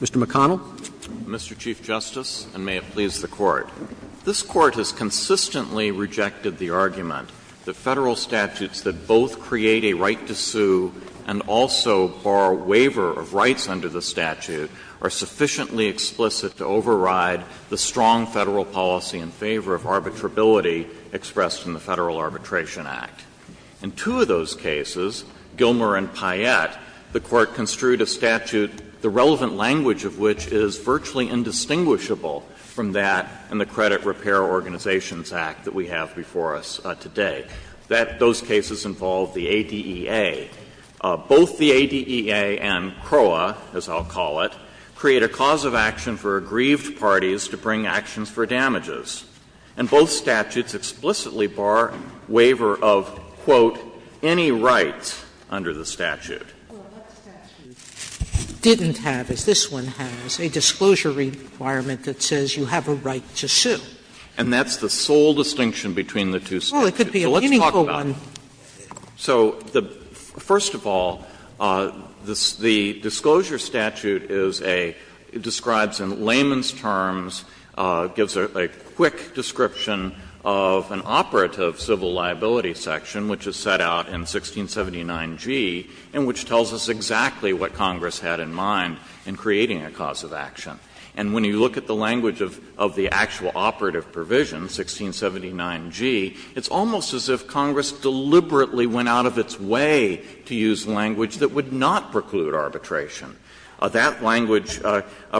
Mr. McConnell. Mr. Chief Justice, and may it please the Court, this Court has consistently rejected the argument that Federal statutes that both create a right to sue and also bar waiver of rights under the statute are sufficiently explicit to override the strong In two of those cases, Gilmer and Payette, the Court construed a statute, the relevant language of which is virtually indistinguishable from that in the Credit Repair Organizations Act that we have before us today, that those cases involve the ADEA. Both the ADEA and CROA, as I'll call it, create a cause of action for aggrieved parties to bring actions for damages. And both statutes explicitly bar waiver of, quote, any rights under the statute. Sotomayor, what statute didn't have, as this one has, a disclosure requirement that says you have a right to sue? And that's the sole distinction between the two statutes. So let's talk about it. Sotomayor, well, it could be a meaningful one. So first of all, the disclosure statute is a – describes in layman's terms – gives a quick description of an operative civil liability section which is set out in 1679g and which tells us exactly what Congress had in mind in creating a cause of action. And when you look at the language of the actual operative provision, 1679g, it's almost as if Congress deliberately went out of its way to use language that would not preclude arbitration. That language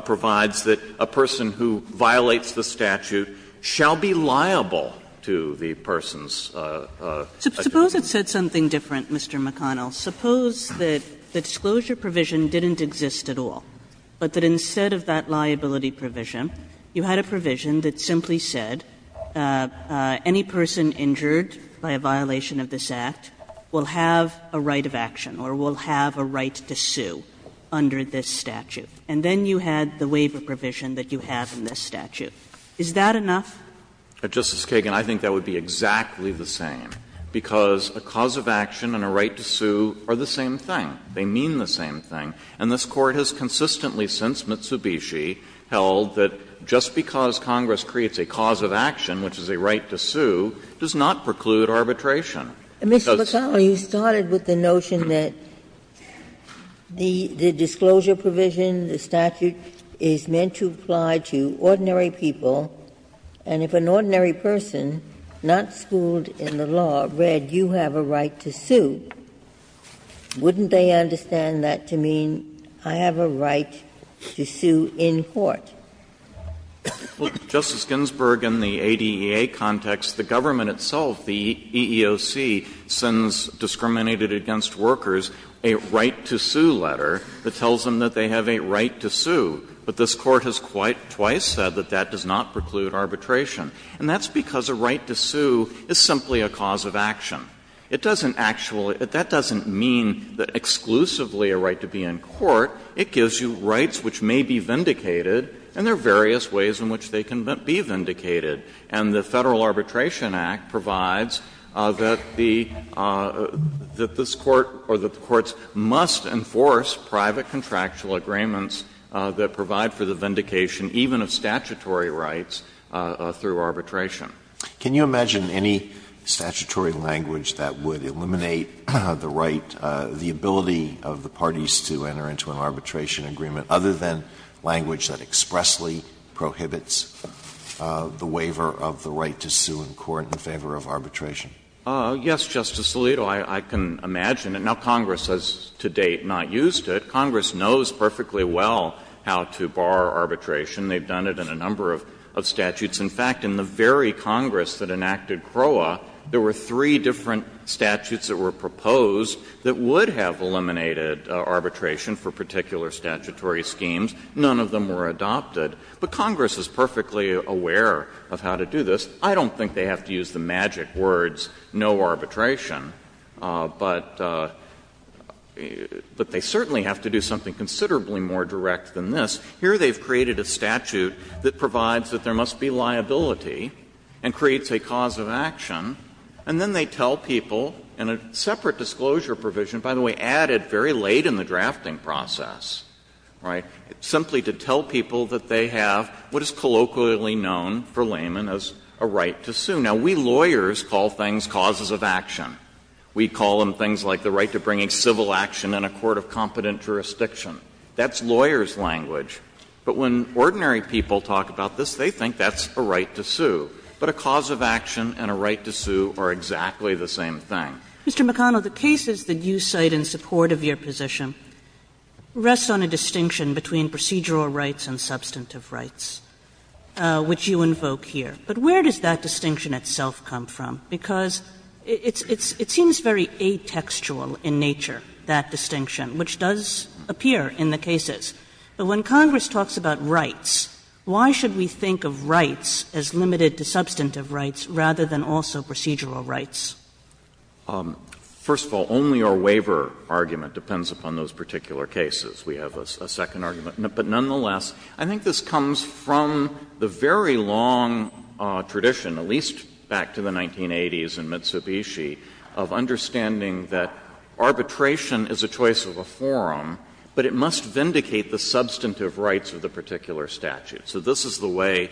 provides that a person who violates the statute shall be liable to the person's adjudication. Sotomayor, suppose it said something different, Mr. McConnell. Suppose that the disclosure provision didn't exist at all, but that instead of that liability provision, you had a provision that simply said any person injured by a violation of this Act will have a right of action or will have a right to sue under this statute. And then you had the waiver provision that you have in this statute. Is that enough? Justice Kagan, I think that would be exactly the same, because a cause of action and a right to sue are the same thing. They mean the same thing. And this Court has consistently since Mitsubishi held that just because Congress creates a cause of action, which is a right to sue, does not preclude arbitration. Ginsburg-McConnell, you started with the notion that the disclosure provision, the statute, is meant to apply to ordinary people, and if an ordinary person not schooled in the law read, you have a right to sue, wouldn't they understand that to mean I have a right to sue in court? Justice Ginsburg, in the ADEA context, the government itself, the EEOC, sends discriminated against workers a right to sue letter that tells them that they have a right to sue. But this Court has quite twice said that that does not preclude arbitration. And that's because a right to sue is simply a cause of action. It doesn't actually — that doesn't mean exclusively a right to be in court. It gives you rights which may be vindicated, and there are various ways in which they can be vindicated. And the Federal Arbitration Act provides that the — that this Court or the courts must enforce private contractual agreements that provide for the vindication even of statutory rights through arbitration. Alitoso, can you imagine any statutory language that would eliminate the right, the arbitration agreement, other than language that expressly prohibits the waiver of the right to sue in court in favor of arbitration? Yes, Justice Alito, I can imagine. Now, Congress has, to date, not used it. Congress knows perfectly well how to bar arbitration. They've done it in a number of statutes. In fact, in the very Congress that enacted CROA, there were three different statutes that were proposed that would have eliminated arbitration for particular statutory schemes. None of them were adopted. But Congress is perfectly aware of how to do this. I don't think they have to use the magic words, no arbitration, but they certainly have to do something considerably more direct than this. Here they've created a statute that provides that there must be liability and creates a cause of action. And then they tell people in a separate disclosure provision, by the way, added very late in the drafting process, right, simply to tell people that they have what is colloquially known for laymen as a right to sue. Now, we lawyers call things causes of action. We call them things like the right to bring civil action in a court of competent jurisdiction. That's lawyers' language. But when ordinary people talk about this, they think that's a right to sue. But a cause of action and a right to sue are exactly the same thing. Kagan Mr. McConnell, the cases that you cite in support of your position rest on a distinction between procedural rights and substantive rights, which you invoke here. But where does that distinction itself come from? Because it seems very atextual in nature, that distinction, which does appear in the cases. But when Congress talks about rights, why should we think of rights as limited to substantive rights rather than also procedural rights? McConnell First of all, only our waiver argument depends upon those particular cases. We have a second argument. But nonetheless, I think this comes from the very long tradition, at least back to the 1980s in Mitsubishi, of understanding that arbitration is a choice of a forum, but it must vindicate the substantive rights of the particular statute. So this is the way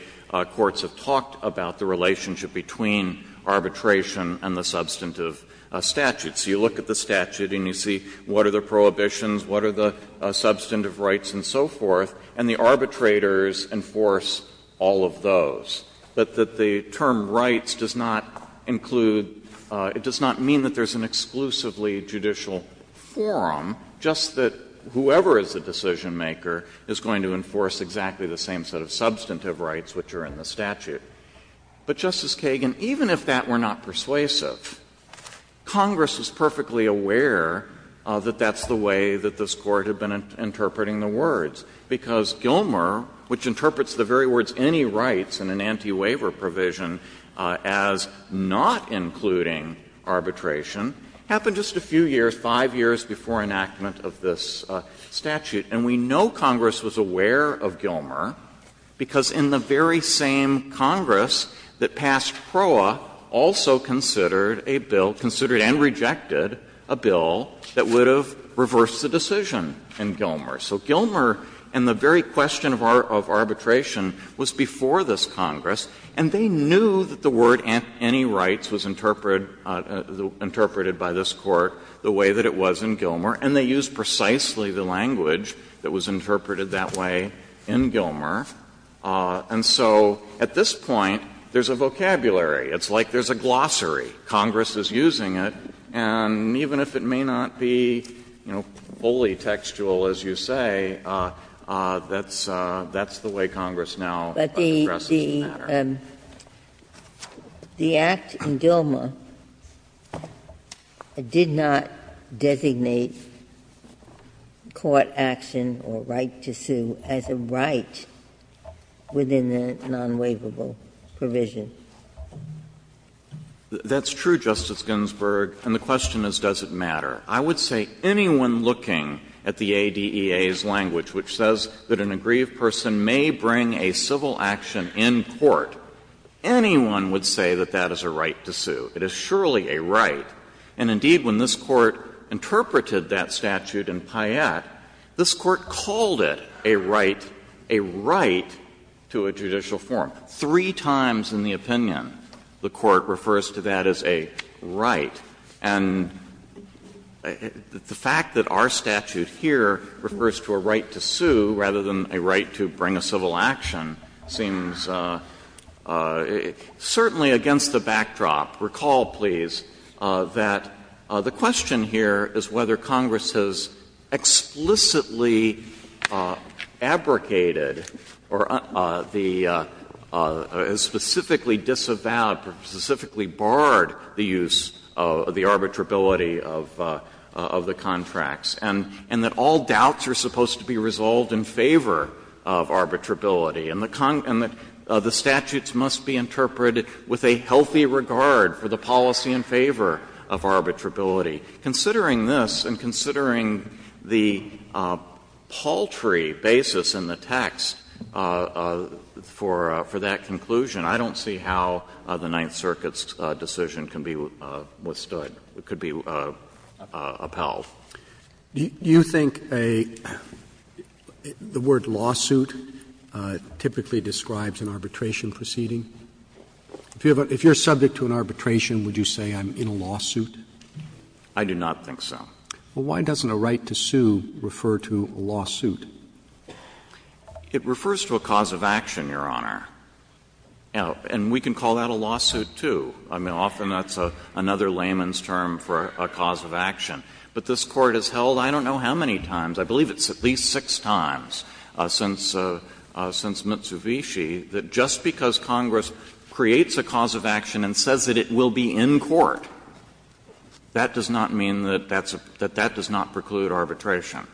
courts have talked about the relationship between arbitration and the substantive statute. So you look at the statute and you see what are the prohibitions, what are the substantive rights and so forth, and the arbitrators enforce all of those. But that the term rights does not include — it does not mean that there's an exclusively judicial forum, just that whoever is the decisionmaker is going to enforce exactly the same set of substantive rights which are in the statute. But, Justice Kagan, even if that were not persuasive, Congress is perfectly aware that that's the way that this Court had been interpreting the words, because Gilmer, which interprets the very words any rights in an anti-waiver provision as not including arbitration, happened just a few years, 5 years before enactment of this statute. And we know Congress was aware of Gilmer, because in the very same Congress that passed PROA also considered a bill, considered and rejected a bill that would have reversed the decision in Gilmer. So Gilmer and the very question of arbitration was before this Congress, and they knew that the word any rights was interpreted by this Court the way that it was in Gilmer, and they used precisely the language that was interpreted that way in Gilmer. And so at this point, there's a vocabulary. It's like there's a glossary. Congress is using it, and even if it may not be, you know, wholly textual, as you say, that's the way Congress now addresses the matter. The Act in Gilmer did not designate court action or right to sue as a right within the non-waivable provision. That's true, Justice Ginsburg, and the question is does it matter. I would say anyone looking at the ADEA's language, which says that an aggrieved person may bring a civil action in court, anyone would say that that is a right to sue. It is surely a right. And indeed, when this Court interpreted that statute in Payette, this Court called it a right, a right to a judicial forum. Three times in the opinion, the Court refers to that as a right. And the fact that our statute here refers to a right to sue rather than a right to bring a civil action seems certainly against the backdrop. Recall, please, that the question here is whether Congress has explicitly abrogated or the — specifically disavowed or specifically barred the use of the arbitrability of the contracts, and that all doubts are supposed to be resolved in favor of arbitrability, and the statutes must be interpreted with a healthy regard for the policy in favor of arbitrability. Considering this and considering the paltry basis in the text for that conclusion, I don't see how the Ninth Circuit's decision can be withstood, could be upheld. Roberts. Do you think a — the word lawsuit typically describes an arbitration proceeding? If you're subject to an arbitration, would you say I'm in a lawsuit? I do not think so. Well, why doesn't a right to sue refer to a lawsuit? It refers to a cause of action, Your Honor. And we can call that a lawsuit, too. I mean, often that's another layman's term for a cause of action. But this Court has held, I don't know how many times, I believe it's at least six times since Mitsubishi, that just because Congress creates a cause of action and says that it will be in court, that does not mean that that does not preclude arbitration,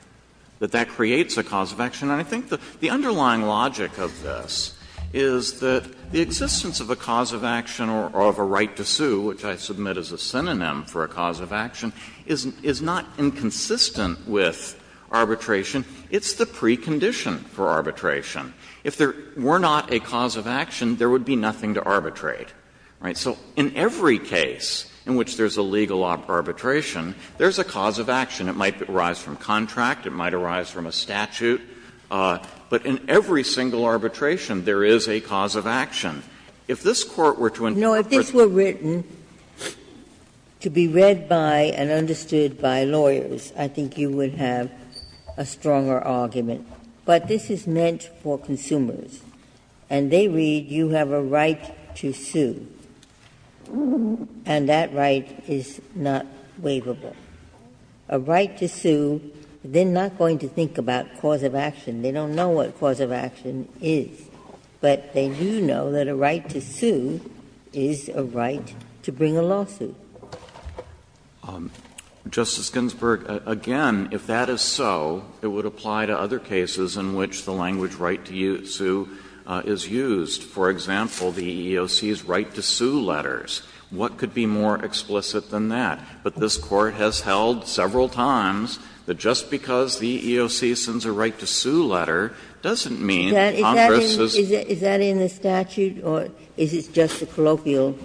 that that creates a cause of action. And I think the underlying logic of this is that the existence of a cause of action or of a right to sue, which I submit as a synonym for a cause of action, is not inconsistent with arbitration. It's the precondition for arbitration. If there were not a cause of action, there would be nothing to arbitrate. Right? So in every case in which there's a legal arbitration, there's a cause of action. It might arise from contract. It might arise from a statute. But in every single arbitration, there is a cause of action. If this Court were to interpret it as a case of arbitration, it would be a case of arbitration. Ginsburg. No, if this were written to be read by and understood by lawyers, I think you would have a stronger argument. And they read, you have a right to sue. And that right is not waivable. A right to sue, they're not going to think about cause of action. They don't know what cause of action is. But they do know that a right to sue is a right to bring a lawsuit. Justice Ginsburg, again, if that is so, it would apply to other cases in which the language right to sue is used. For example, the EEOC's right to sue letters. What could be more explicit than that? But this Court has held several times that just because the EEOC sends a right to sue letter doesn't mean that Congress is. Ginsburg. Is that in the statute or is it just a colloquial?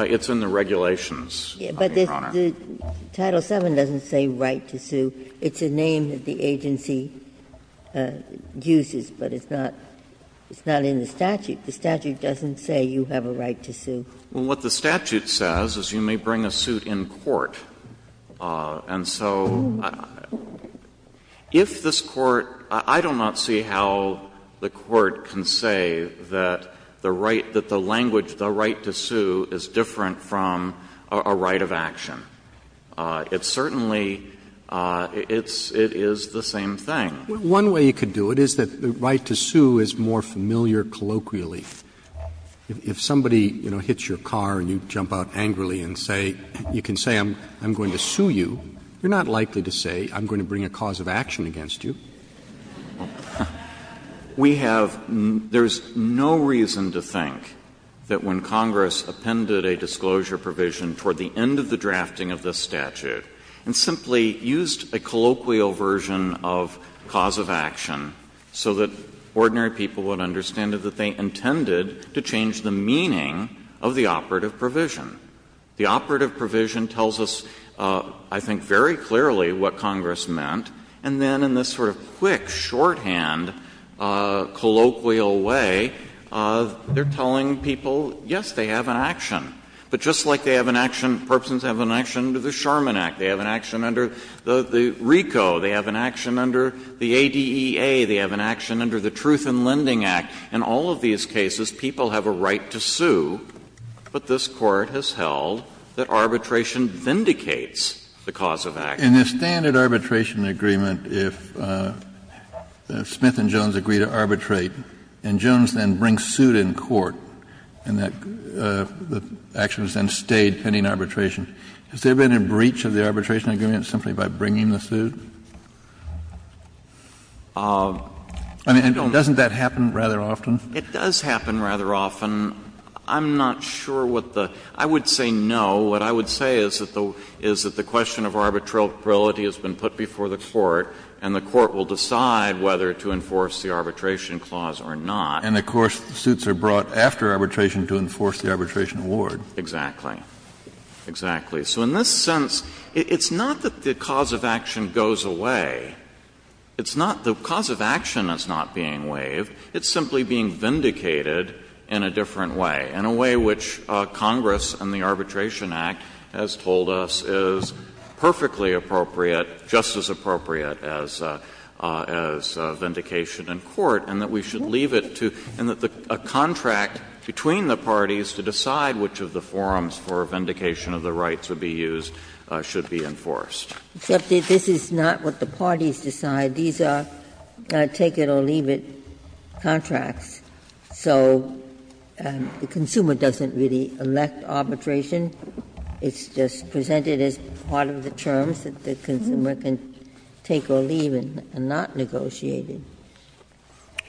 It's in the regulations, Your Honor. But Title VII doesn't say right to sue. It's a name that the agency uses, but it's not in the statute. The statute doesn't say you have a right to sue. Well, what the statute says is you may bring a suit in court. And so if this Court – I do not see how the Court can say that the right, that the language, the right to sue is different from a right of action. It certainly – it is the same thing. One way you could do it is that the right to sue is more familiar colloquially. If somebody, you know, hits your car and you jump out angrily and say – you can say I'm going to sue you, you're not likely to say I'm going to bring a cause of action against you. We have – there's no reason to think that when Congress appended a disclosure provision toward the end of the drafting of this statute and simply used a colloquial version of cause of action so that ordinary people would understand it, that they intended to change the meaning of the operative provision. The operative provision tells us, I think, very clearly what Congress meant. And then in this sort of quick, shorthand, colloquial way, they're telling people, yes, they have an action. But just like they have an action – Perpsons have an action under the Sherman Act, they have an action under the RICO, they have an action under the ADEA, they have an action under the Truth in Lending Act. In all of these cases, people have a right to sue, but this Court has held that arbitration vindicates the cause of action. Kennedy, in the standard arbitration agreement, if Smith and Jones agree to arbitrate and Jones then brings suit in court, and the action is then stayed pending arbitration, has there been a breach of the arbitration agreement simply by bringing the suit? I mean, doesn't that happen rather often? It does happen rather often. I'm not sure what the – I would say no. What I would say is that the question of arbitrarily has been put before the Court and the Court will decide whether to enforce the arbitration clause or not. And, of course, suits are brought after arbitration to enforce the arbitration award. Exactly. Exactly. So in this sense, it's not that the cause of action goes away. It's not the cause of action that's not being waived. It's simply being vindicated in a different way, in a way which Congress and the Arbitration Act, as told us, is perfectly appropriate, just as appropriate as vindication in court, and that we should leave it to – and that the contract between the parties to decide which of the forms for vindication of the rights would be used should be enforced. Except that this is not what the parties decide. These are, take it or leave it, contracts. So the consumer doesn't really elect arbitration. It's just presented as part of the terms that the consumer can take or leave and not negotiate it.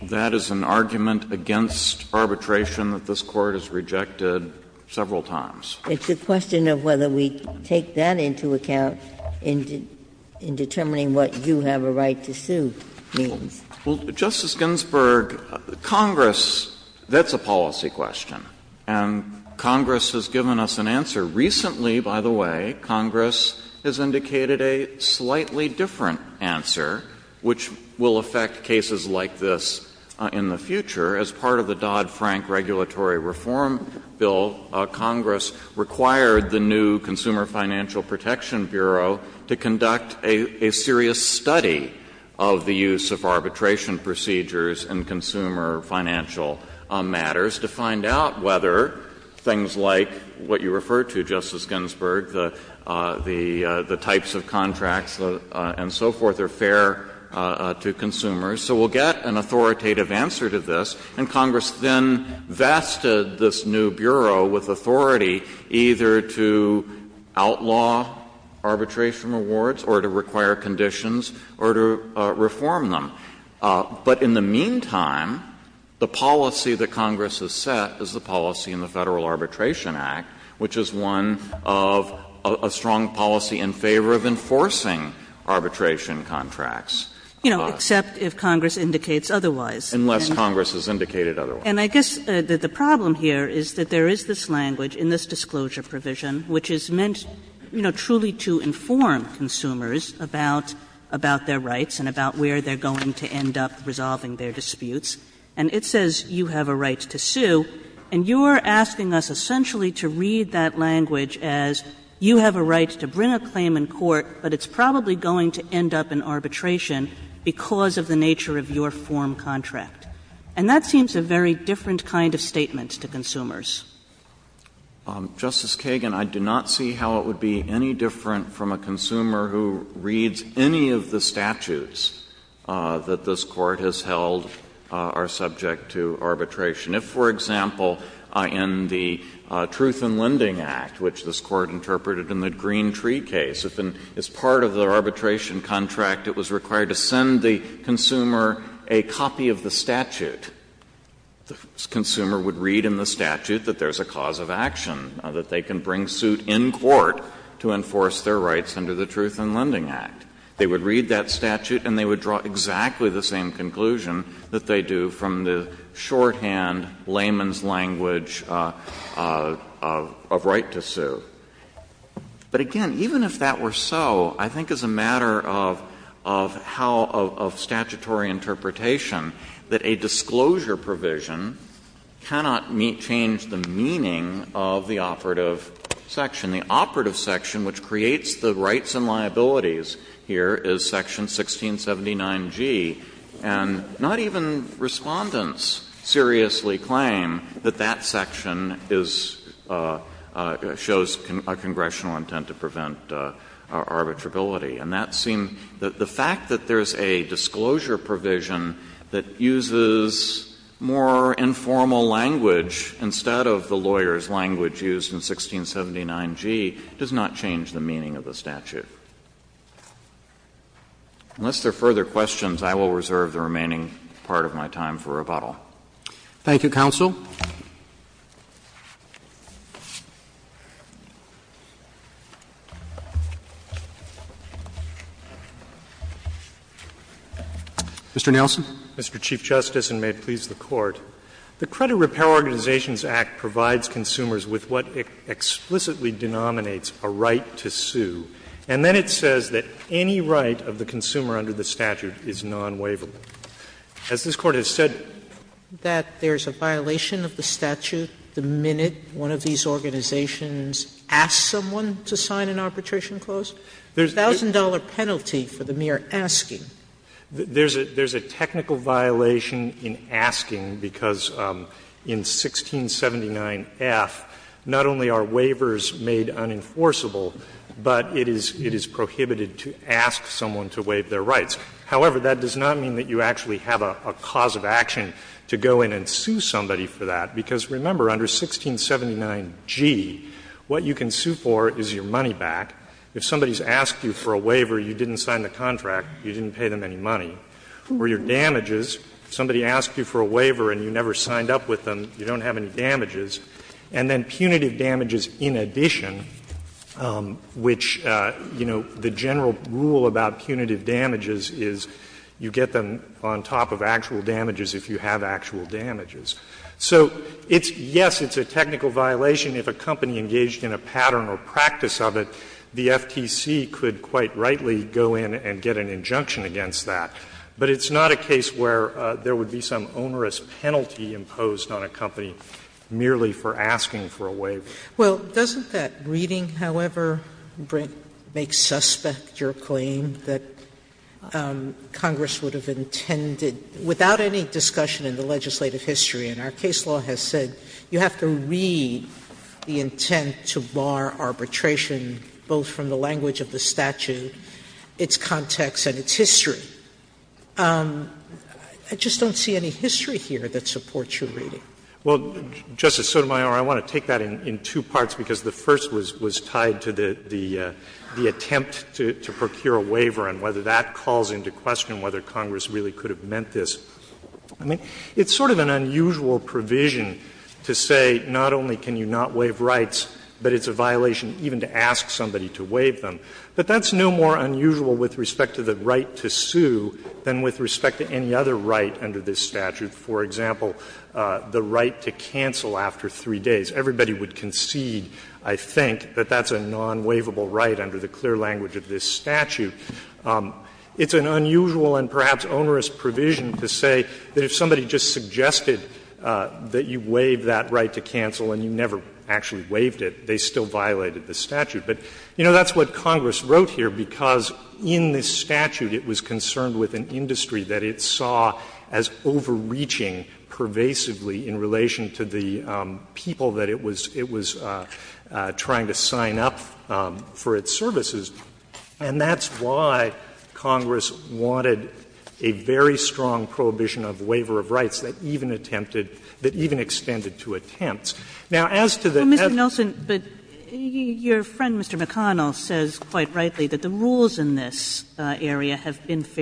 That is an argument against arbitration that this Court has rejected several times. It's a question of whether we take that into account in determining what you have a right to sue means. Well, Justice Ginsburg, Congress – that's a policy question. And Congress has given us an answer. Recently, by the way, Congress has indicated a slightly different answer, which will affect cases like this in the future. As part of the Dodd-Frank regulatory reform bill, Congress required the new Consumer Financial Protection Bureau to conduct a serious study of the use of arbitration procedures in consumer financial matters to find out whether things like what you refer to, Justice Ginsburg, the types of contracts and so forth, are fair to consumers. So we'll get an authoritative answer to this. And Congress then vested this new bureau with authority either to outlaw arbitration rewards or to require conditions or to reform them. But in the meantime, the policy that Congress has set is the policy in the Federal Arbitration Act, which is one of a strong policy in favor of enforcing arbitration contracts. You know, except if Congress indicates otherwise. Unless Congress has indicated otherwise. And I guess the problem here is that there is this language in this disclosure provision which is meant, you know, truly to inform consumers about their rights and about where they're going to end up resolving their disputes. And it says you have a right to sue, and you're asking us essentially to read that language as you have a right to bring a claim in court, but it's probably going to end up in arbitration because of the nature of your form contract. And that seems a very different kind of statement to consumers. Justice Kagan, I do not see how it would be any different from a consumer who reads any of the statutes that this Court has held are subject to arbitration. If, for example, in the Truth in Lending Act, which this Court interpreted in the Green Tree case, as part of the arbitration contract, it was required to send the consumer a copy of the statute. The consumer would read in the statute that there's a cause of action, that they can bring suit in court to enforce their rights under the Truth in Lending Act. They would read that statute, and they would draw exactly the same conclusion that they do from the shorthand layman's language of right to sue. But again, even if that were so, I think it's a matter of how — of statutory interpretation that a disclosure provision cannot change the meaning of the operative section. The operative section, which creates the rights and liabilities here, is section 1679G. And not even Respondents seriously claim that that section is — shows concern. It's a congressional intent to prevent arbitrability. And that seemed — the fact that there's a disclosure provision that uses more informal language instead of the lawyer's language used in 1679G does not change the meaning of the statute. Unless there are further questions, I will reserve the remaining part of my time for rebuttal. Thank you, counsel. Mr. Nelson. Mr. Chief Justice, and may it please the Court. The Credit Repair Organizations Act provides consumers with what it explicitly denominates a right to sue. And then it says that any right of the consumer under the statute is nonwaverly. As this Court has said, that there's a violation of the statute the minute one of these organizations ask someone to sign an arbitration clause? There's a thousand-dollar penalty for the mere asking. There's a technical violation in asking because in 1679F, not only are waivers made unenforceable, but it is prohibited to ask someone to waive their rights. However, that does not mean that you actually have a cause of action to go in and sue somebody for that, because remember, under 1679G, what you can sue for is your money back. If somebody has asked you for a waiver, you didn't sign the contract, you didn't pay them any money. Or your damages, if somebody asked you for a waiver and you never signed up with them, you don't have any damages. And then punitive damages in addition, which, you know, the general rule about punitive damages is you get them on top of actual damages if you have actual damages. So it's yes, it's a technical violation if a company engaged in a pattern or practice of it, the FTC could quite rightly go in and get an injunction against that. But it's not a case where there would be some onerous penalty imposed on a company merely for asking for a waiver. Sotomayor, well, doesn't that reading, however, make suspect your claim that Congress would have intended, without any discussion in the legislative history, and our case law has said you have to read the intent to bar arbitration, both from the language of the statute, its context, and its history. I just don't see any history here that supports your reading. Well, Justice Sotomayor, I want to take that in two parts, because the first was tied to the attempt to procure a waiver and whether that calls into question whether Congress really could have meant this. I mean, it's sort of an unusual provision to say not only can you not waive rights, but it's a violation even to ask somebody to waive them. But that's no more unusual with respect to the right to sue than with respect to any other right under this statute. For example, the right to cancel after three days. Everybody would concede, I think, that that's a non-waivable right under the clear language of this statute. It's an unusual and perhaps onerous provision to say that if somebody just suggested that you waive that right to cancel and you never actually waived it, they still violated the statute. But, you know, that's what Congress wrote here, because in this statute it was concerned with an industry that it saw as overreaching pervasively in relation to the people that it was trying to sign up for its services. And that's why Congress wanted a very strong prohibition of waiver of rights that even attempted, that even extended to attempts. Now, as to the other thing that's going on in this case, I don't think it's unusual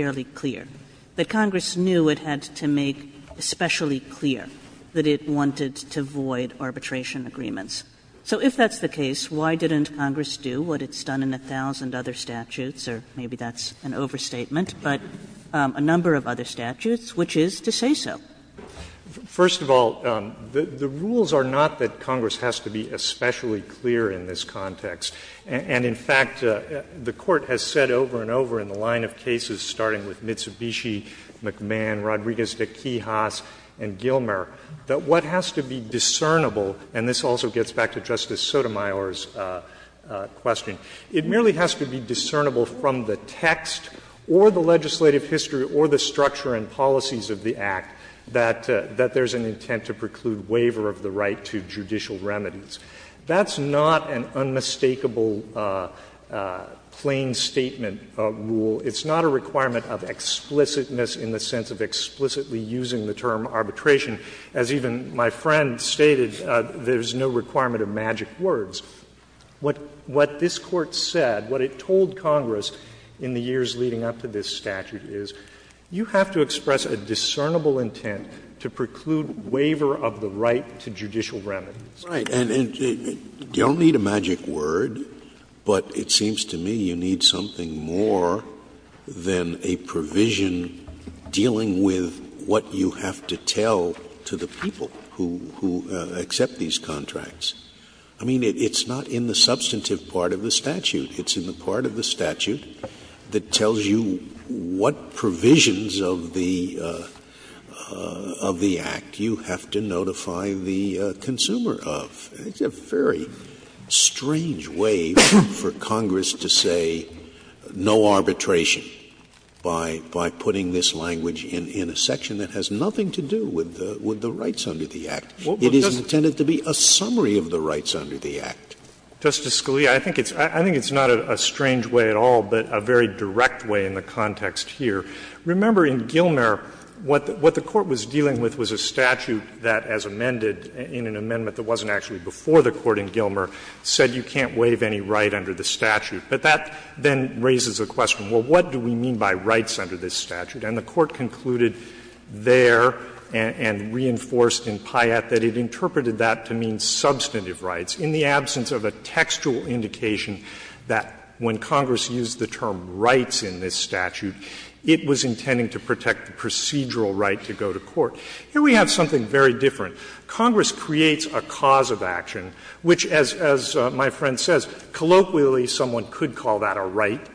or clear, that Congress knew it had to make especially clear that it wanted to void arbitration agreements. So if that's the case, why didn't Congress do what it's done in a thousand other statutes, or maybe that's an overstatement, but a number of other statutes, which is to say so? First of all, the rules are not that Congress has to be especially clear in this context. And in fact, the Court has said over and over in the line of cases starting with Mitsubishi, McMahon, Rodriguez de Quijas, and Gilmer, that what has to be discernible — and this also gets back to Justice Sotomayor's question — it merely has to be discernible from the text or the legislative history or the structure and policies of the Act that there's an intent to preclude waiver of the right to judicial remedies. That's not an unmistakable plain statement rule. It's not a requirement of explicitness in the sense of explicitly using the term arbitration. As even my friend stated, there's no requirement of magic words. What this Court said, what it told Congress in the years leading up to this statute is, you have to express a discernible intent to preclude waiver of the right to judicial remedies. Scalia. And you don't need a magic word, but it seems to me you need something more than a provision dealing with what you have to tell to the people who accept these contracts. I mean, it's not in the substantive part of the statute. It's in the part of the statute that tells you what provisions of the Act you have to make a provision of. It's a very strange way for Congress to say, no arbitration, by putting this language in a section that has nothing to do with the rights under the Act. It is intended to be a summary of the rights under the Act. Justice Scalia, I think it's not a strange way at all, but a very direct way in the context here. Remember, in Gilmer, what the Court was dealing with was a statute that, as amended in an amendment that wasn't actually before the Court in Gilmer, said you can't waive any right under the statute. But that then raises a question, well, what do we mean by rights under this statute? And the Court concluded there and reinforced in Pyatt that it interpreted that to mean substantive rights in the absence of a textual indication that when Congress used the term rights in this statute, it was intending to protect the procedural right to go to court. Here we have something very different. Congress creates a cause of action, which, as my friend says, colloquially someone could call that a right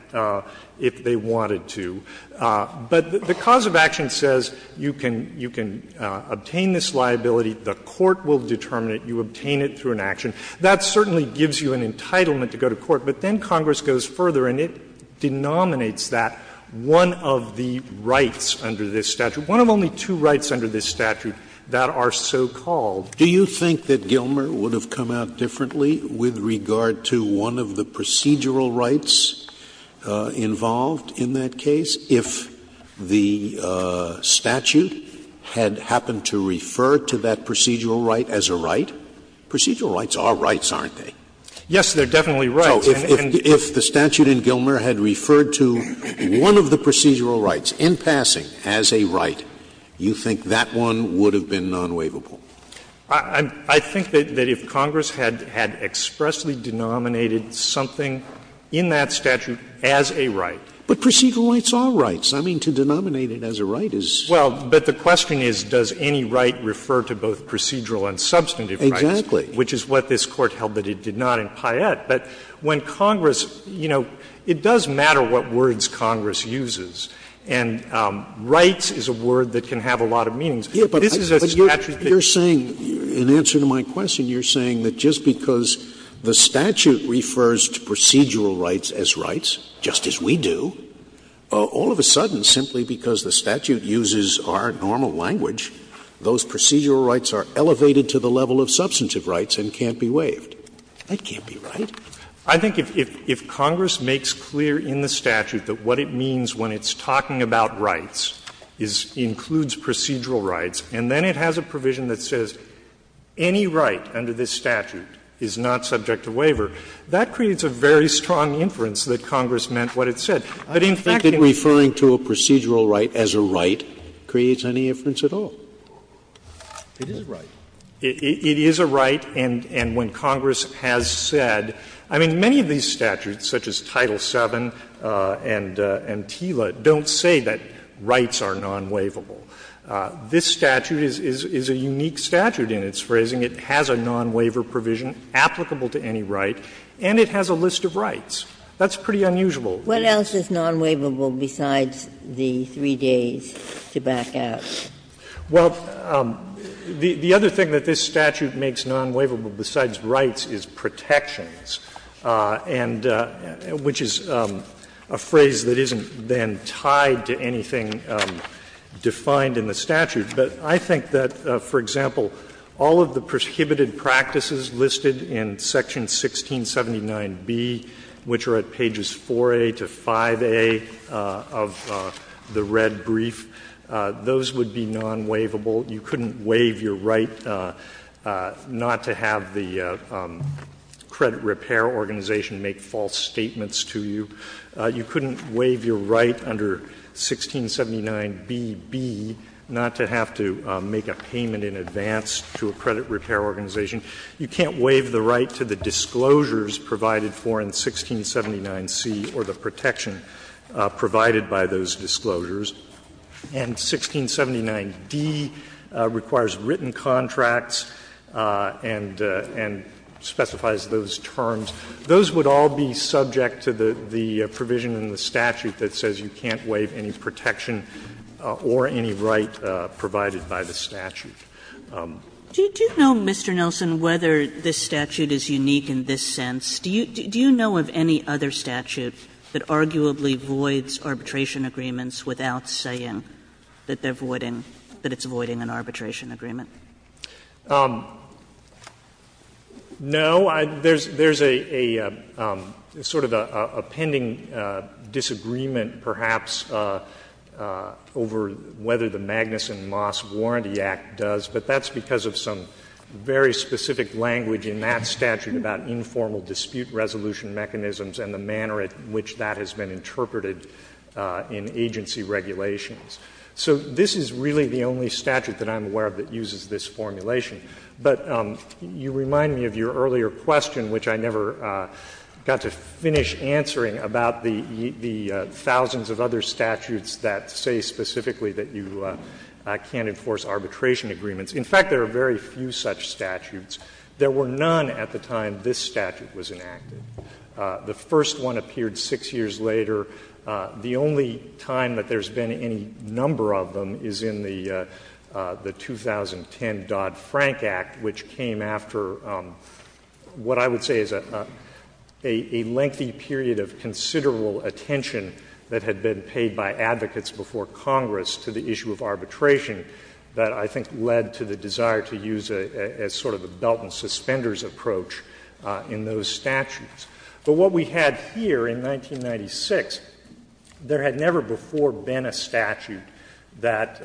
if they wanted to. But the cause of action says you can obtain this liability, the Court will determine it, you obtain it through an action. That certainly gives you an entitlement to go to court. But then Congress goes further and it denominates that one of the rights under this statute that are so-called. Scalia. Do you think that Gilmer would have come out differently with regard to one of the procedural rights involved in that case if the statute had happened to refer to that procedural right as a right? Procedural rights are rights, aren't they? Yes, they're definitely rights. So if the statute in Gilmer had referred to one of the procedural rights in passing as a right, you think that one would have been non-waivable? I think that if Congress had expressly denominated something in that statute as a right. But procedural rights are rights. I mean, to denominate it as a right is. Well, but the question is, does any right refer to both procedural and substantive rights? Exactly. Which is what this Court held that it did not in Payette. But when Congress, you know, it does matter what words Congress uses. And rights is a word that can have a lot of meanings. But this is a statute that's not a procedural right. But you're saying, in answer to my question, you're saying that just because the statute refers to procedural rights as rights, just as we do, all of a sudden, simply because the statute uses our normal language, those procedural rights are elevated to the level of substantive rights and can't be waived. That can't be right. I think if Congress makes clear in the statute that what it means when it's talking about rights is it includes procedural rights, and then it has a provision that says any right under this statute is not subject to waiver, that creates a very strong inference that Congress meant what it said. But in fact, in referring to a procedural right as a right creates any inference at all. It is a right. And when Congress has said, I mean, many of these statutes, such as Title VII and TILA, don't say that rights are non-waivable. This statute is a unique statute in its phrasing. It has a non-waiver provision applicable to any right, and it has a list of rights. That's pretty unusual. Ginsburg. What else is non-waivable besides the three days to back out? Well, the other thing that this statute makes non-waivable besides rights is protections, and which is a phrase that isn't then tied to anything defined in the statute. But I think that, for example, all of the prohibited practices listed in section 1679B, which are at pages 4A to 5A of the red brief, those would be non-waivable. You couldn't waive your right not to have the credit repair organization make false statements to you. You couldn't waive your right under 1679BB not to have to make a payment in advance to a credit repair organization. You can't waive the right to the disclosures provided for in 1679C or the protection provided by those disclosures. And 1679D requires written contracts and specifies those terms. Those would all be subject to the provision in the statute that says you can't waive any protection or any right provided by the statute. Kagan. Do you know, Mr. Nelson, whether this statute is unique in this sense? Do you know of any other statute that arguably voids arbitration agreements without saying that they're voiding an arbitration agreement? No. There is a sort of a pending disagreement, perhaps, over whether the Magnuson Moss Warranty Act does, but that's because of some very specific language in that statute about informal dispute resolution mechanisms and the manner in which that has been interpreted in agency regulations. So this is really the only statute that I'm aware of that uses this formulation. But you remind me of your earlier question, which I never got to finish answering, about the thousands of other statutes that say specifically that you can't enforce arbitration agreements. In fact, there are very few such statutes. There were none at the time this statute was enacted. The first one appeared 6 years later. The only time that there's been any number of them is in the 2010 Dodd-Frank Act, which came after what I would say is a lengthy period of considerable attention that had been paid by advocates before Congress to the issue of arbitration that I think led to the desire to use a sort of a belt and suspenders approach in those statutes. But what we had here in 1996, there had never before been a statute that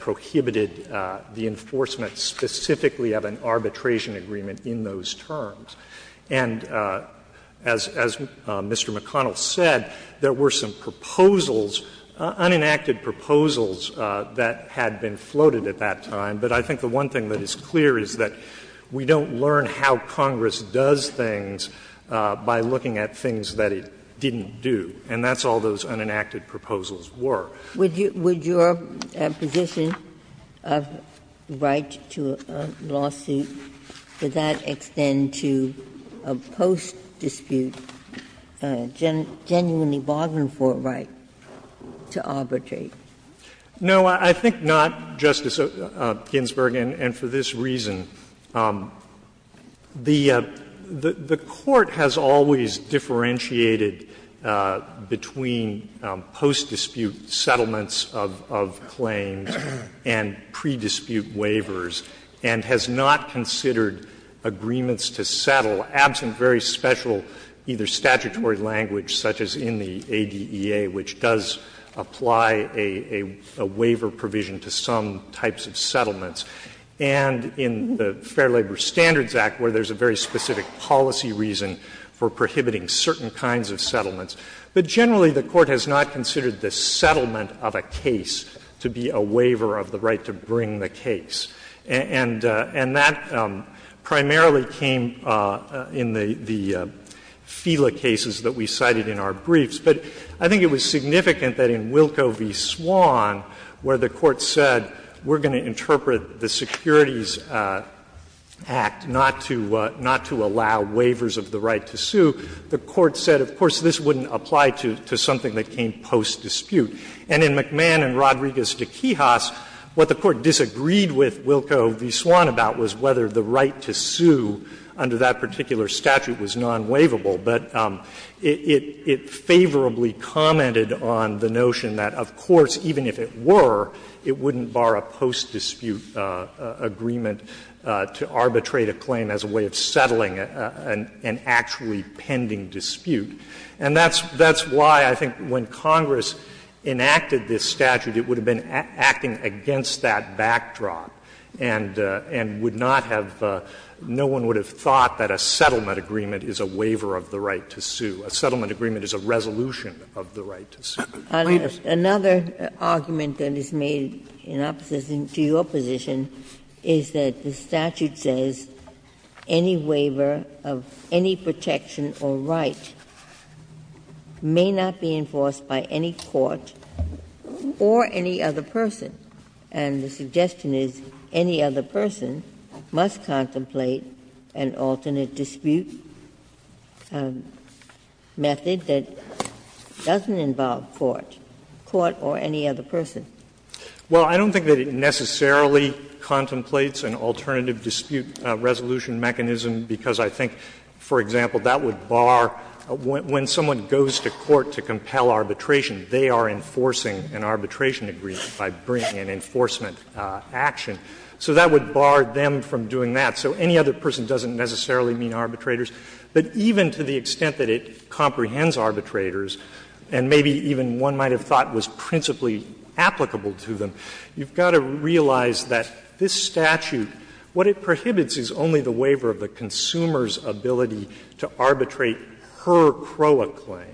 prohibited the enforcement specifically of an arbitration agreement in those terms. And as Mr. McConnell said, there were some proposals, unenacted proposals, that had been floated at that time. But I think the one thing that is clear is that we don't learn how Congress does things by looking at things that it didn't do, and that's all those unenacted proposals were. Ginsburg. Would your position of right to a lawsuit to that extent to a post-dispute genuinely bargain for a right to arbitrate? No, I think not, Justice Ginsburg, and for this reason. The Court has always differentiated between post-dispute settlements of claims and pre-dispute waivers, and has not considered agreements to settle, absent very special either statutory language, such as in the ADEA, which does apply a waiver provision to some types of settlements. And in the Fair Labor Standards Act, where there's a very specific policy reason for prohibiting certain kinds of settlements. But generally, the Court has not considered the settlement of a case to be a waiver of the right to bring the case. And that primarily came in the FELA cases that we cited in our briefs. But I think it was significant that in Wilco v. Swan, where the Court said, we're going to interpret the Securities Act not to allow waivers of the right to sue, the Court said, of course, this wouldn't apply to something that came post-dispute. And in McMahon v. Rodriguez v. Quijas, what the Court disagreed with Wilco v. Swan about was whether the right to sue under that particular statute was non-waivable. But it favorably commented on the notion that, of course, even if it were, it wouldn't bar a post-dispute agreement to arbitrate a claim as a way of settling an actually pending dispute. And that's why I think when Congress enacted this statute, it would have been acting against that backdrop and would not have no one would have thought that a settlement agreement is a waiver of the right to sue. Ginsburg. Another argument that is made in opposition to your position is that the statute says any waiver of any protection or right may not be enforced by any court or any other person. And the suggestion is any other person must contemplate an alternate dispute method that doesn't involve court, court or any other person. Well, I don't think that it necessarily contemplates an alternative dispute resolution mechanism, because I think, for example, that would bar when someone goes to court to compel arbitration, they are enforcing an arbitration agreement by bringing an enforcement action. So that would bar them from doing that. So any other person doesn't necessarily mean arbitrators. But even to the extent that it comprehends arbitrators, and maybe even one might have thought was principally applicable to them, you've got to realize that this statute, what it prohibits is only the waiver of the consumer's ability to arbitrate per CROA claim.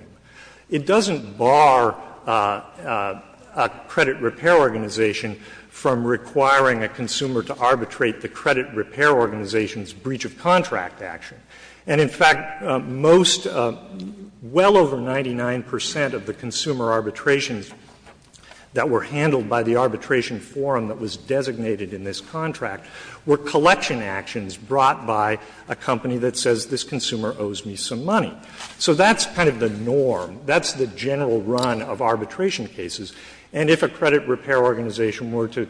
It doesn't bar a credit repair organization from requiring a consumer to arbitrate the credit repair organization's breach of contract action. And, in fact, most, well over 99 percent of the consumer arbitrations that were handled by the arbitration forum that was designated in this contract were collection actions brought by a company that says this consumer owes me some money. So that's kind of the norm. That's the general run of arbitration cases. And if a credit repair organization were to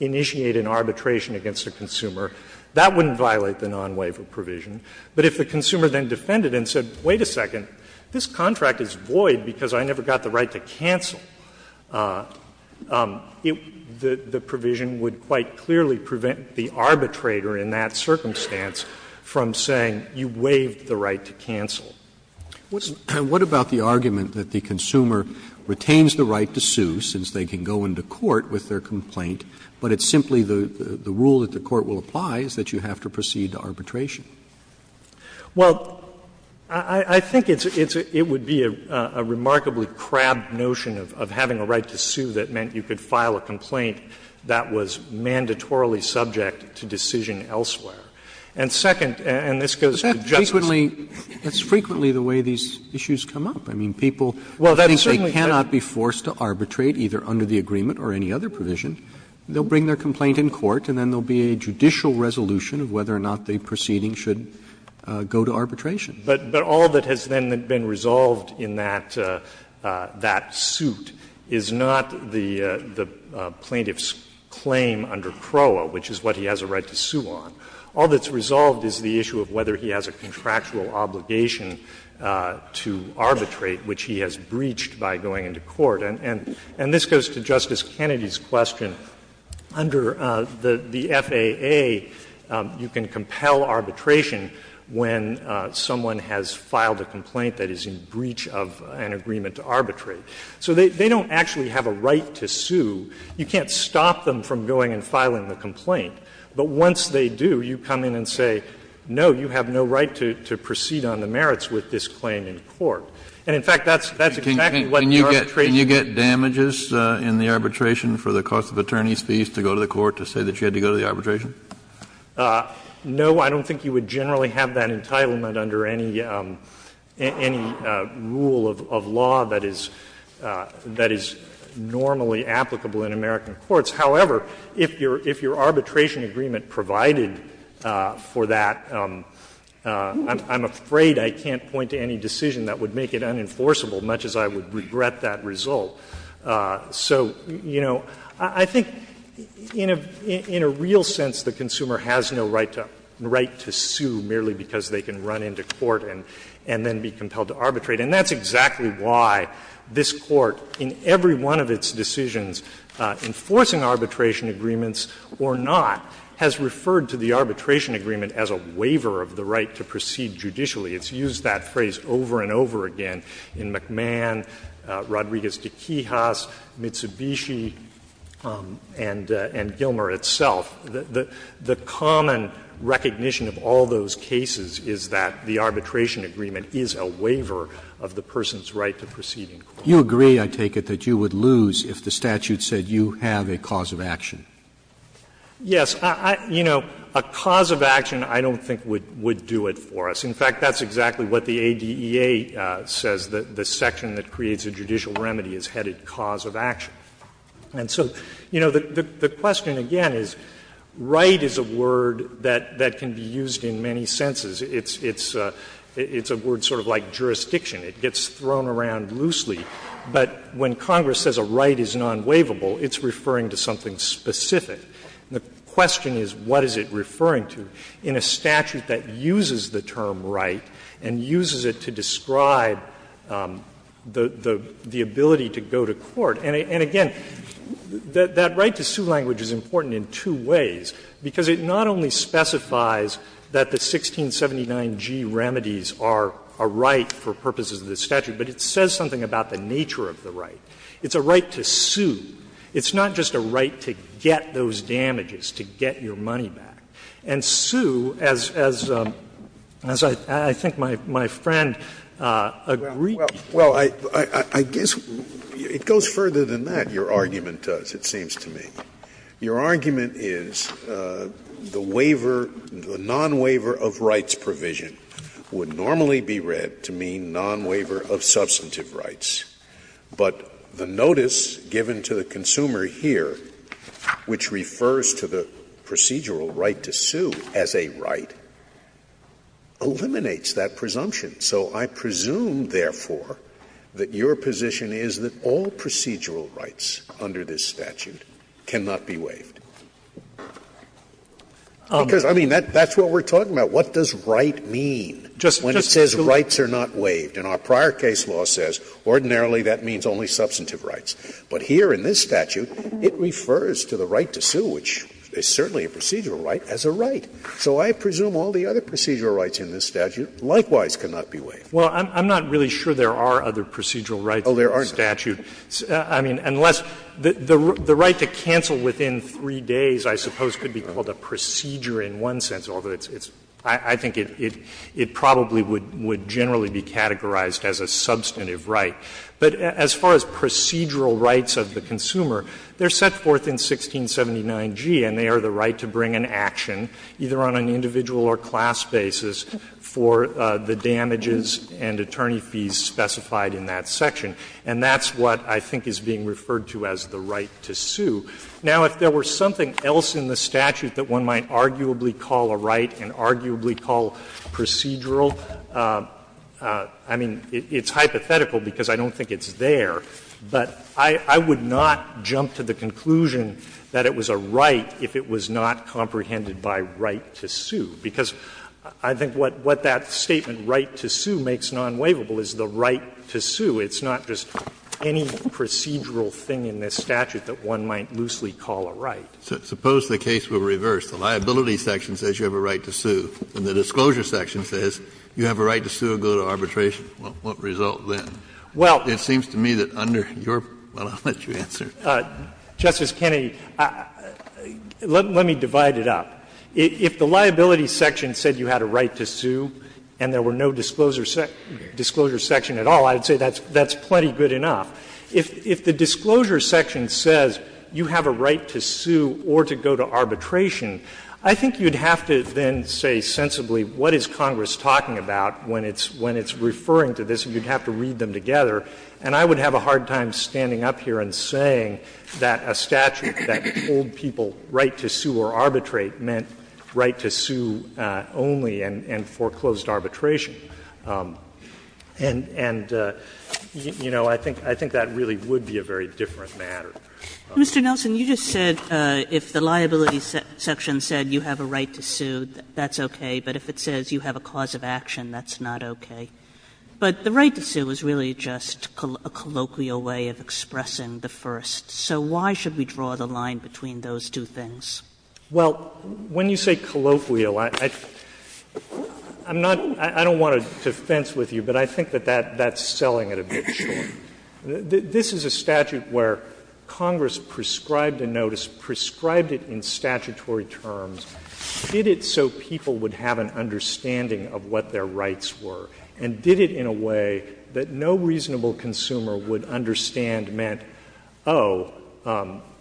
initiate an arbitration against a consumer, that wouldn't violate the non-waiver provision. But if the consumer then defended and said, wait a second, this contract is void because I never got the right to cancel, the provision would quite clearly prevent the arbitrator in that circumstance from saying you waived the right to cancel. Roberts. And what about the argument that the consumer retains the right to sue, since they can go into court with their complaint, but it's simply the rule that the court will apply is that you have to proceed to arbitration? Well, I think it would be a remarkably crabbed notion of having a right to sue that meant you could file a complaint that was mandatorily subject to decision elsewhere. It's frequently the way these issues come up. I mean, people think they cannot be forced to arbitrate either under the agreement or any other provision. They will bring their complaint in court and then there will be a judicial resolution of whether or not the proceeding should go to arbitration. But all that has then been resolved in that suit is not the plaintiff's claim under CROA, which is what he has a right to sue on. All that's resolved is the issue of whether he has a contractual obligation to arbitrate, which he has breached by going into court. And this goes to Justice Kennedy's question. Under the FAA, you can compel arbitration when someone has filed a complaint that is in breach of an agreement to arbitrate. So they don't actually have a right to sue. You can't stop them from going and filing the complaint. But once they do, you come in and say, no, you have no right to proceed on the merits with this claim in court. And, in fact, that's exactly what the arbitration would be. Kennedy, can you get damages in the arbitration for the cost of attorney's fees to go to the court to say that you had to go to the arbitration? No, I don't think you would generally have that entitlement under any rule of law that is normally applicable in American courts. However, if your arbitration agreement provided for that, I'm afraid I can't point to any decision that would make it unenforceable, much as I would regret that result. So, you know, I think in a real sense, the consumer has no right to sue merely because they can run into court and then be compelled to arbitrate. And that's exactly why this Court, in every one of its decisions, enforcing arbitration agreements or not, has referred to the arbitration agreement as a waiver of the right to proceed judicially. It's used that phrase over and over again in McMahon, Rodriguez de Quijas, Mitsubishi, and Gilmer itself. The common recognition of all those cases is that the arbitration agreement is a waiver of the person's right to proceed in court. Roberts, you agree, I take it, that you would lose if the statute said you have a cause of action? Yes. You know, a cause of action I don't think would do it for us. In fact, that's exactly what the ADEA says, that the section that creates a judicial remedy is headed cause of action. And so, you know, the question again is, right is a word that can be used in many senses. It's a word sort of like jurisdiction. It gets thrown around loosely. But when Congress says a right is non-waivable, it's referring to something specific. The question is, what is it referring to in a statute that uses the term right and uses it to describe the ability to go to court? And again, that right to sue language is important in two ways, because it not only specifies that the 1679g remedies are a right for purposes of the statute, but it says something about the nature of the right. It's a right to sue. It's not just a right to get those damages, to get your money back. And sue, as I think my friend agreed. Well, I guess it goes further than that, your argument does, it seems to me. Your argument is the waiver, the non-waiver of rights provision would normally be read to mean non-waiver of substantive rights. But the notice given to the consumer here, which refers to the procedural right to sue as a right, eliminates that presumption. So I presume, therefore, that your position is that all procedural rights under this statute cannot be waived. Because, I mean, that's what we're talking about. What does right mean when it says rights are not waived? And our prior case law says ordinarily that means only substantive rights. But here in this statute, it refers to the right to sue, which is certainly a procedural right, as a right. So I presume all the other procedural rights in this statute likewise cannot be waived. Well, I'm not really sure there are other procedural rights in the statute. Oh, there aren't. I mean, unless the right to cancel within 3 days, I suppose, could be called a procedure in one sense, although it's — I think it probably would generally be categorized as a substantive right. But as far as procedural rights of the consumer, they're set forth in 1679g, and they are the right to bring an action, either on an individual or class basis, for the damages and attorney fees specified in that section. And that's what I think is being referred to as the right to sue. Now, if there were something else in the statute that one might arguably call a right and arguably call procedural, I mean, it's hypothetical because I don't think it's there. But I would not jump to the conclusion that it was a right if it was not comprehended by right to sue, because I think what that statement, right to sue, makes non-waivable is the right to sue. It's not just any procedural thing in this statute that one might loosely call a right. Kennedy, it seems to me that under your — well, I'll let you answer. Justice Kennedy, let me divide it up. If the liability section said you had a right to sue and there were no disclosure sections at all, I would say that's plenty good enough. If the disclosure section says you have a right to sue or to go to arbitration, I think you would have to then say sensibly what is Congress talking about when it's referring to this, and you would have to read them together. And I would have a hard time standing up here and saying that a statute that told people right to sue or arbitrate meant right to sue only and foreclosed arbitration. And, you know, I think that really would be a very different matter. Kagan. Kagan Mr. Nelson, you just said if the liability section said you have a right to sue, that's okay, but if it says you have a cause of action, that's not okay. But the right to sue is really just a colloquial way of expressing the first. So why should we draw the line between those two things? Nelson Well, when you say colloquial, I'm not — I don't want to fence with you, but I think that that's selling it a bit short. This is a statute where Congress prescribed a notice, prescribed it in statutory terms, did it so people would have an understanding of what their rights were, and did it in a way that no reasonable consumer would understand meant, oh,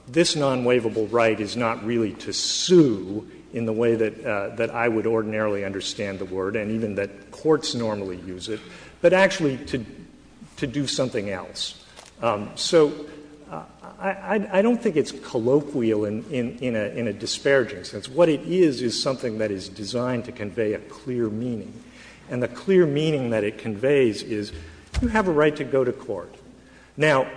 this nonwaivable right is not really to sue in the way that I would ordinarily understand the word and even that courts normally use it, but actually to do something else. So I don't think it's colloquial in a disparaging sense. What it is, is something that is designed to convey a clear meaning. And the clear meaning that it conveys is you have a right to go to court. Now,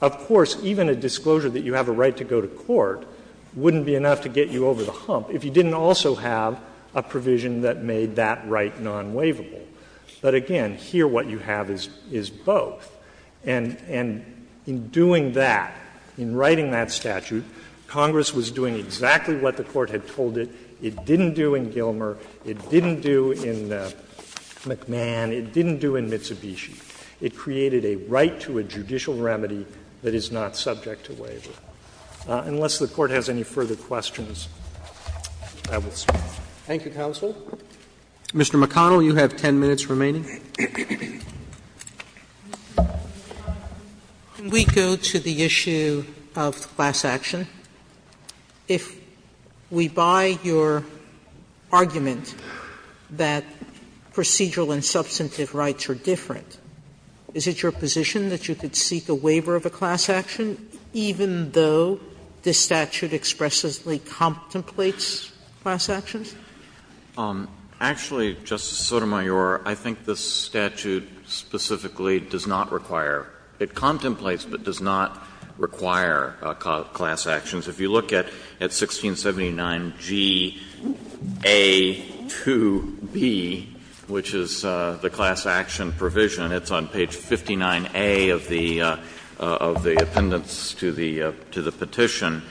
of course, even a disclosure that you have a right to go to court wouldn't be enough to get you over the hump if you didn't also have a provision that made that right nonwaivable. But again, here what you have is both. And in doing that, in writing that statute, Congress was doing exactly what the Court had told it. It didn't do in Gilmer. It didn't do in McMahon. It didn't do in Mitsubishi. It created a right to a judicial remedy that is not subject to waiver. Unless the Court has any further questions, I will stop. Roberts. Thank you, counsel. Mr. McConnell, you have 10 minutes remaining. Sotomayor. Can we go to the issue of class action? If we buy your argument that procedural and substantive rights are different, is it your position that you could seek a waiver of a class action even though this statute expressively contemplates class actions? Actually, Justice Sotomayor, I think this statute specifically does not require – it contemplates but does not require class actions. If you look at 1679Ga2b, which is the class action provision, it's on page 59A of the appendix to the petition,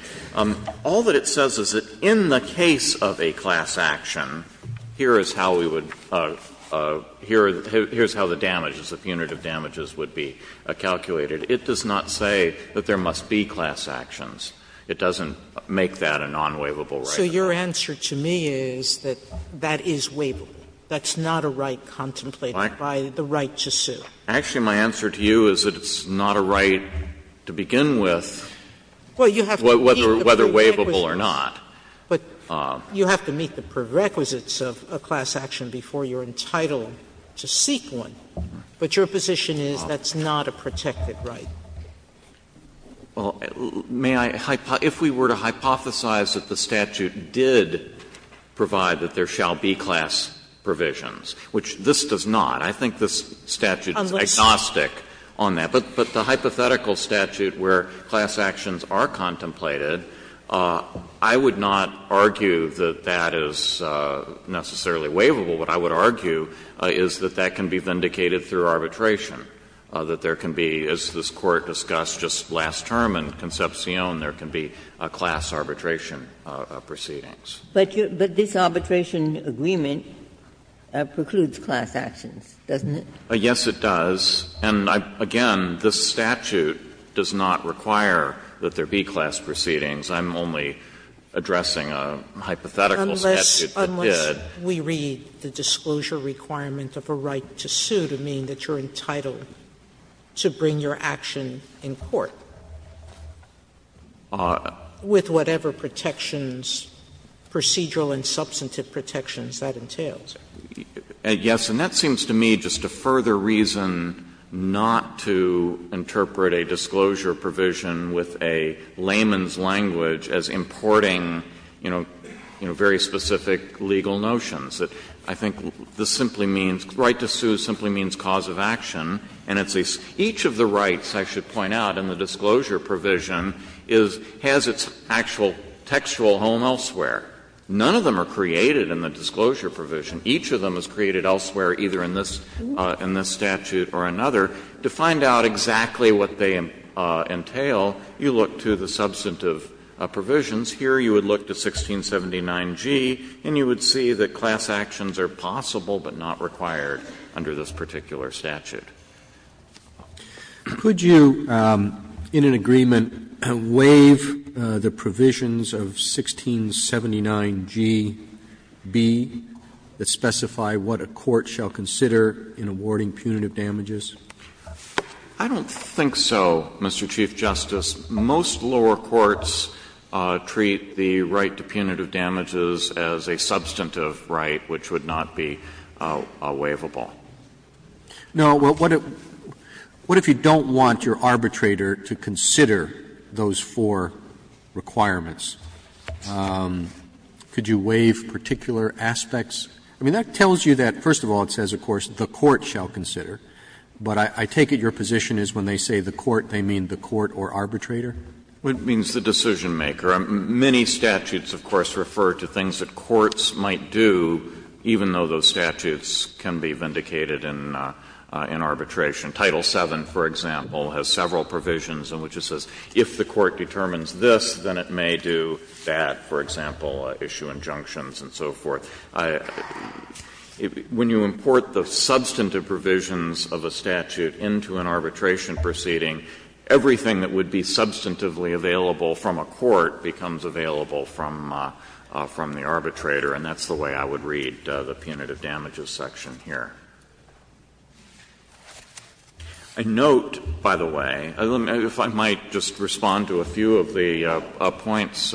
all that it says is that in the case of a class action, here is how we would – here is how the damages, the punitive damages would be calculated. It does not say that there must be class actions. It doesn't make that a non-waivable right. So your answer to me is that that is waivable. That's not a right contemplated by the right to sue. Actually, my answer to you is that it's not a right to begin with, whether waivable or not. But you have to meet the prerequisites of a class action before you're entitled to seek one. But your position is that's not a protected right. Well, may I – if we were to hypothesize that the statute did provide that there shall be class provisions, which this does not, I think this statute is agnostic on that. But the hypothetical statute where class actions are contemplated, I would not argue that that is necessarily waivable. What I would argue is that that can be vindicated through arbitration, that there can be, as this Court discussed just last term in Concepcion, there can be class arbitration proceedings. But this arbitration agreement precludes class actions, doesn't it? Yes, it does. And again, this statute does not require that there be class proceedings. I'm only addressing a hypothetical statute that did. Unless we read the disclosure requirement of a right to sue to mean that you're entitled to bring your action in court with whatever protections, procedural and substantive protections, that entails. Yes, and that seems to me just a further reason not to interpret a disclosure provision with a layman's language as importing, you know, very specific legal notions. I think this simply means, right to sue simply means cause of action. And it's a — each of the rights, I should point out, in the disclosure provision is — has its actual textual home elsewhere. None of them are created in the disclosure provision. Each of them is created elsewhere, either in this statute or another. To find out exactly what they entail, you look to the substantive provisions. Here, you would look to 1679g, and you would see that class actions are possible but not required under this particular statute. Could you, in an agreement, waive the provisions of 1679gb that specify what a court shall consider in awarding punitive damages? I don't think so, Mr. Chief Justice. Most lower courts treat the right to punitive damages as a substantive right, which would not be waivable. No. What if you don't want your arbitrator to consider those four requirements? Could you waive particular aspects? I mean, that tells you that, first of all, it says, of course, the court shall consider. But I take it your position is when they say the court, they mean the court or arbitrator? It means the decisionmaker. Many statutes, of course, refer to things that courts might do, even though those statutes can be vindicated in arbitration. Title VII, for example, has several provisions in which it says, if the court determines this, then it may do that, for example, issue injunctions and so forth. When you import the substantive provisions of a statute into an arbitration proceeding, everything that would be substantively available from a court becomes available from the arbitrator, and that's the way I would read the punitive damages section here. I note, by the way, if I might just respond to a few of the points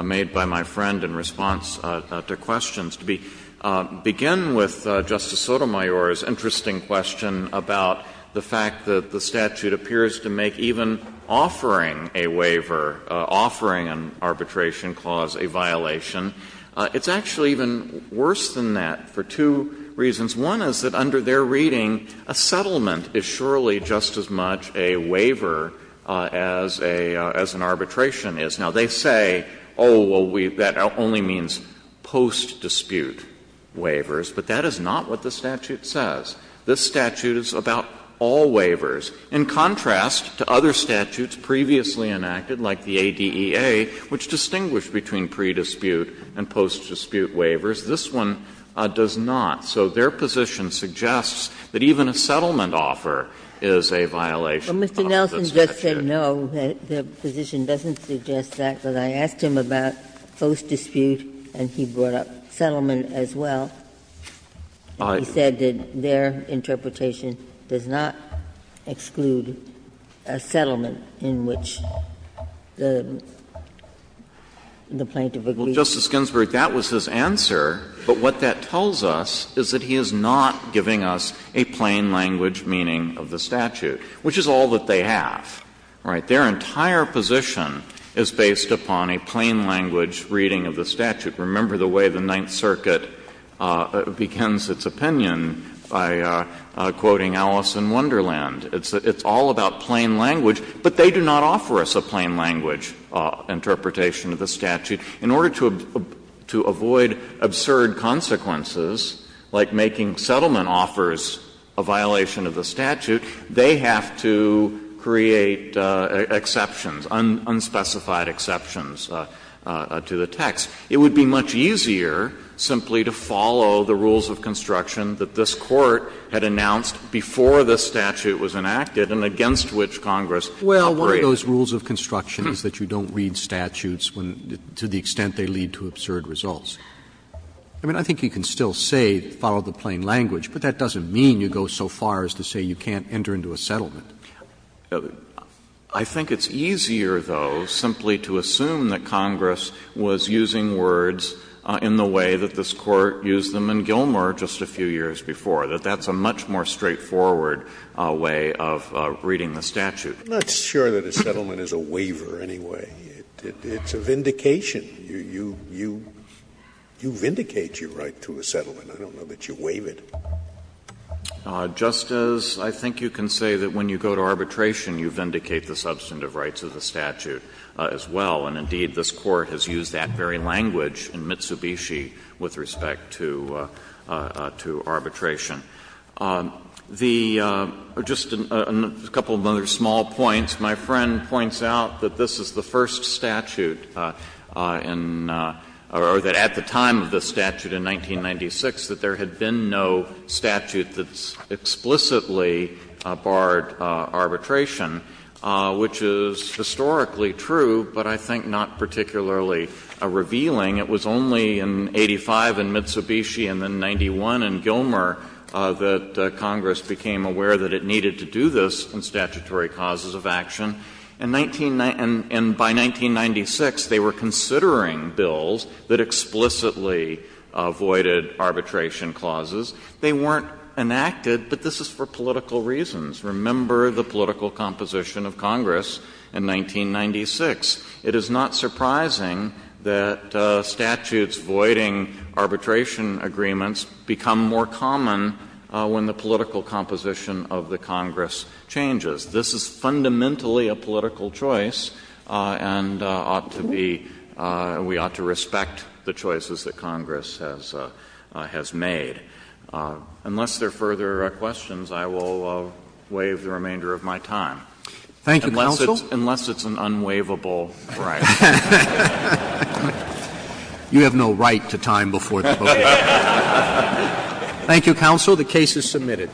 made by my friend in response to questions. To begin with Justice Sotomayor's interesting question about the fact that the statute appears to make even offering a waiver, offering an arbitration clause, a violation. It's actually even worse than that for two reasons. One is that under their reading, a settlement is surely just as much a waiver as a — as an arbitration is. Now, they say, oh, well, we — that only means post-dispute waivers, but that is not what the statute says. This statute is about all waivers. In contrast to other statutes previously enacted, like the ADEA, which distinguished between pre-dispute and post-dispute waivers, this one does not. So their position suggests that even a settlement offer is a violation of the statute. Ginsburg, no, their position doesn't suggest that, but I asked him about post-dispute and he brought up settlement as well. He said that their interpretation does not exclude a settlement in which the plaintiff agrees. Well, Justice Ginsburg, that was his answer, but what that tells us is that he is not giving us a plain-language meaning of the statute, which is all that they have. Right? Their entire position is based upon a plain-language reading of the statute. Remember the way the Ninth Circuit begins its opinion by quoting Alice in Wonderland. It's all about plain language, but they do not offer us a plain-language interpretation of the statute. In order to avoid absurd consequences, like making settlement offers a violation of the statute, they have to create exceptions, unspecified exceptions to the text. It would be much easier simply to follow the rules of construction that this Court had announced before the statute was enacted and against which Congress operated. Roberts Those rules of construction is that you don't read statutes to the extent they lead to absurd results. I mean, I think you can still say follow the plain language, but that doesn't mean you go so far as to say you can't enter into a settlement. I think it's easier, though, simply to assume that Congress was using words in the way that this Court used them in Gilmer just a few years before, that that's a much more straightforward way of reading the statute. Scalia I'm not sure that a settlement is a waiver, anyway. It's a vindication. You vindicate your right to a settlement. I don't know that you waive it. Justice, I think you can say that when you go to arbitration, you vindicate the substantive rights of the statute as well. And indeed, this Court has used that very language in Mitsubishi with respect to arbitration. The — just a couple of other small points. My friend points out that this is the first statute in — or that at the time of the statute in 1996 that there had been no statute that explicitly barred arbitration, which is historically true, but I think not particularly revealing. It was only in 85 in Mitsubishi and then 91 in Gilmer that Congress became aware that it needed to do this in statutory causes of action. In 19 — and by 1996, they were considering bills that explicitly avoided arbitration clauses. They weren't enacted, but this is for political reasons. Remember the political composition of Congress in 1996. It is not surprising that statutes voiding arbitration agreements become more common when the political composition of the Congress changes. This is fundamentally a political choice and ought to be — we ought to respect the choices that Congress has made. Unless there are further questions, I will waive the remainder of my time. Thank you, counsel. Unless it's an unwaivable right. You have no right to time before the vote is made. Thank you, counsel. The case is submitted.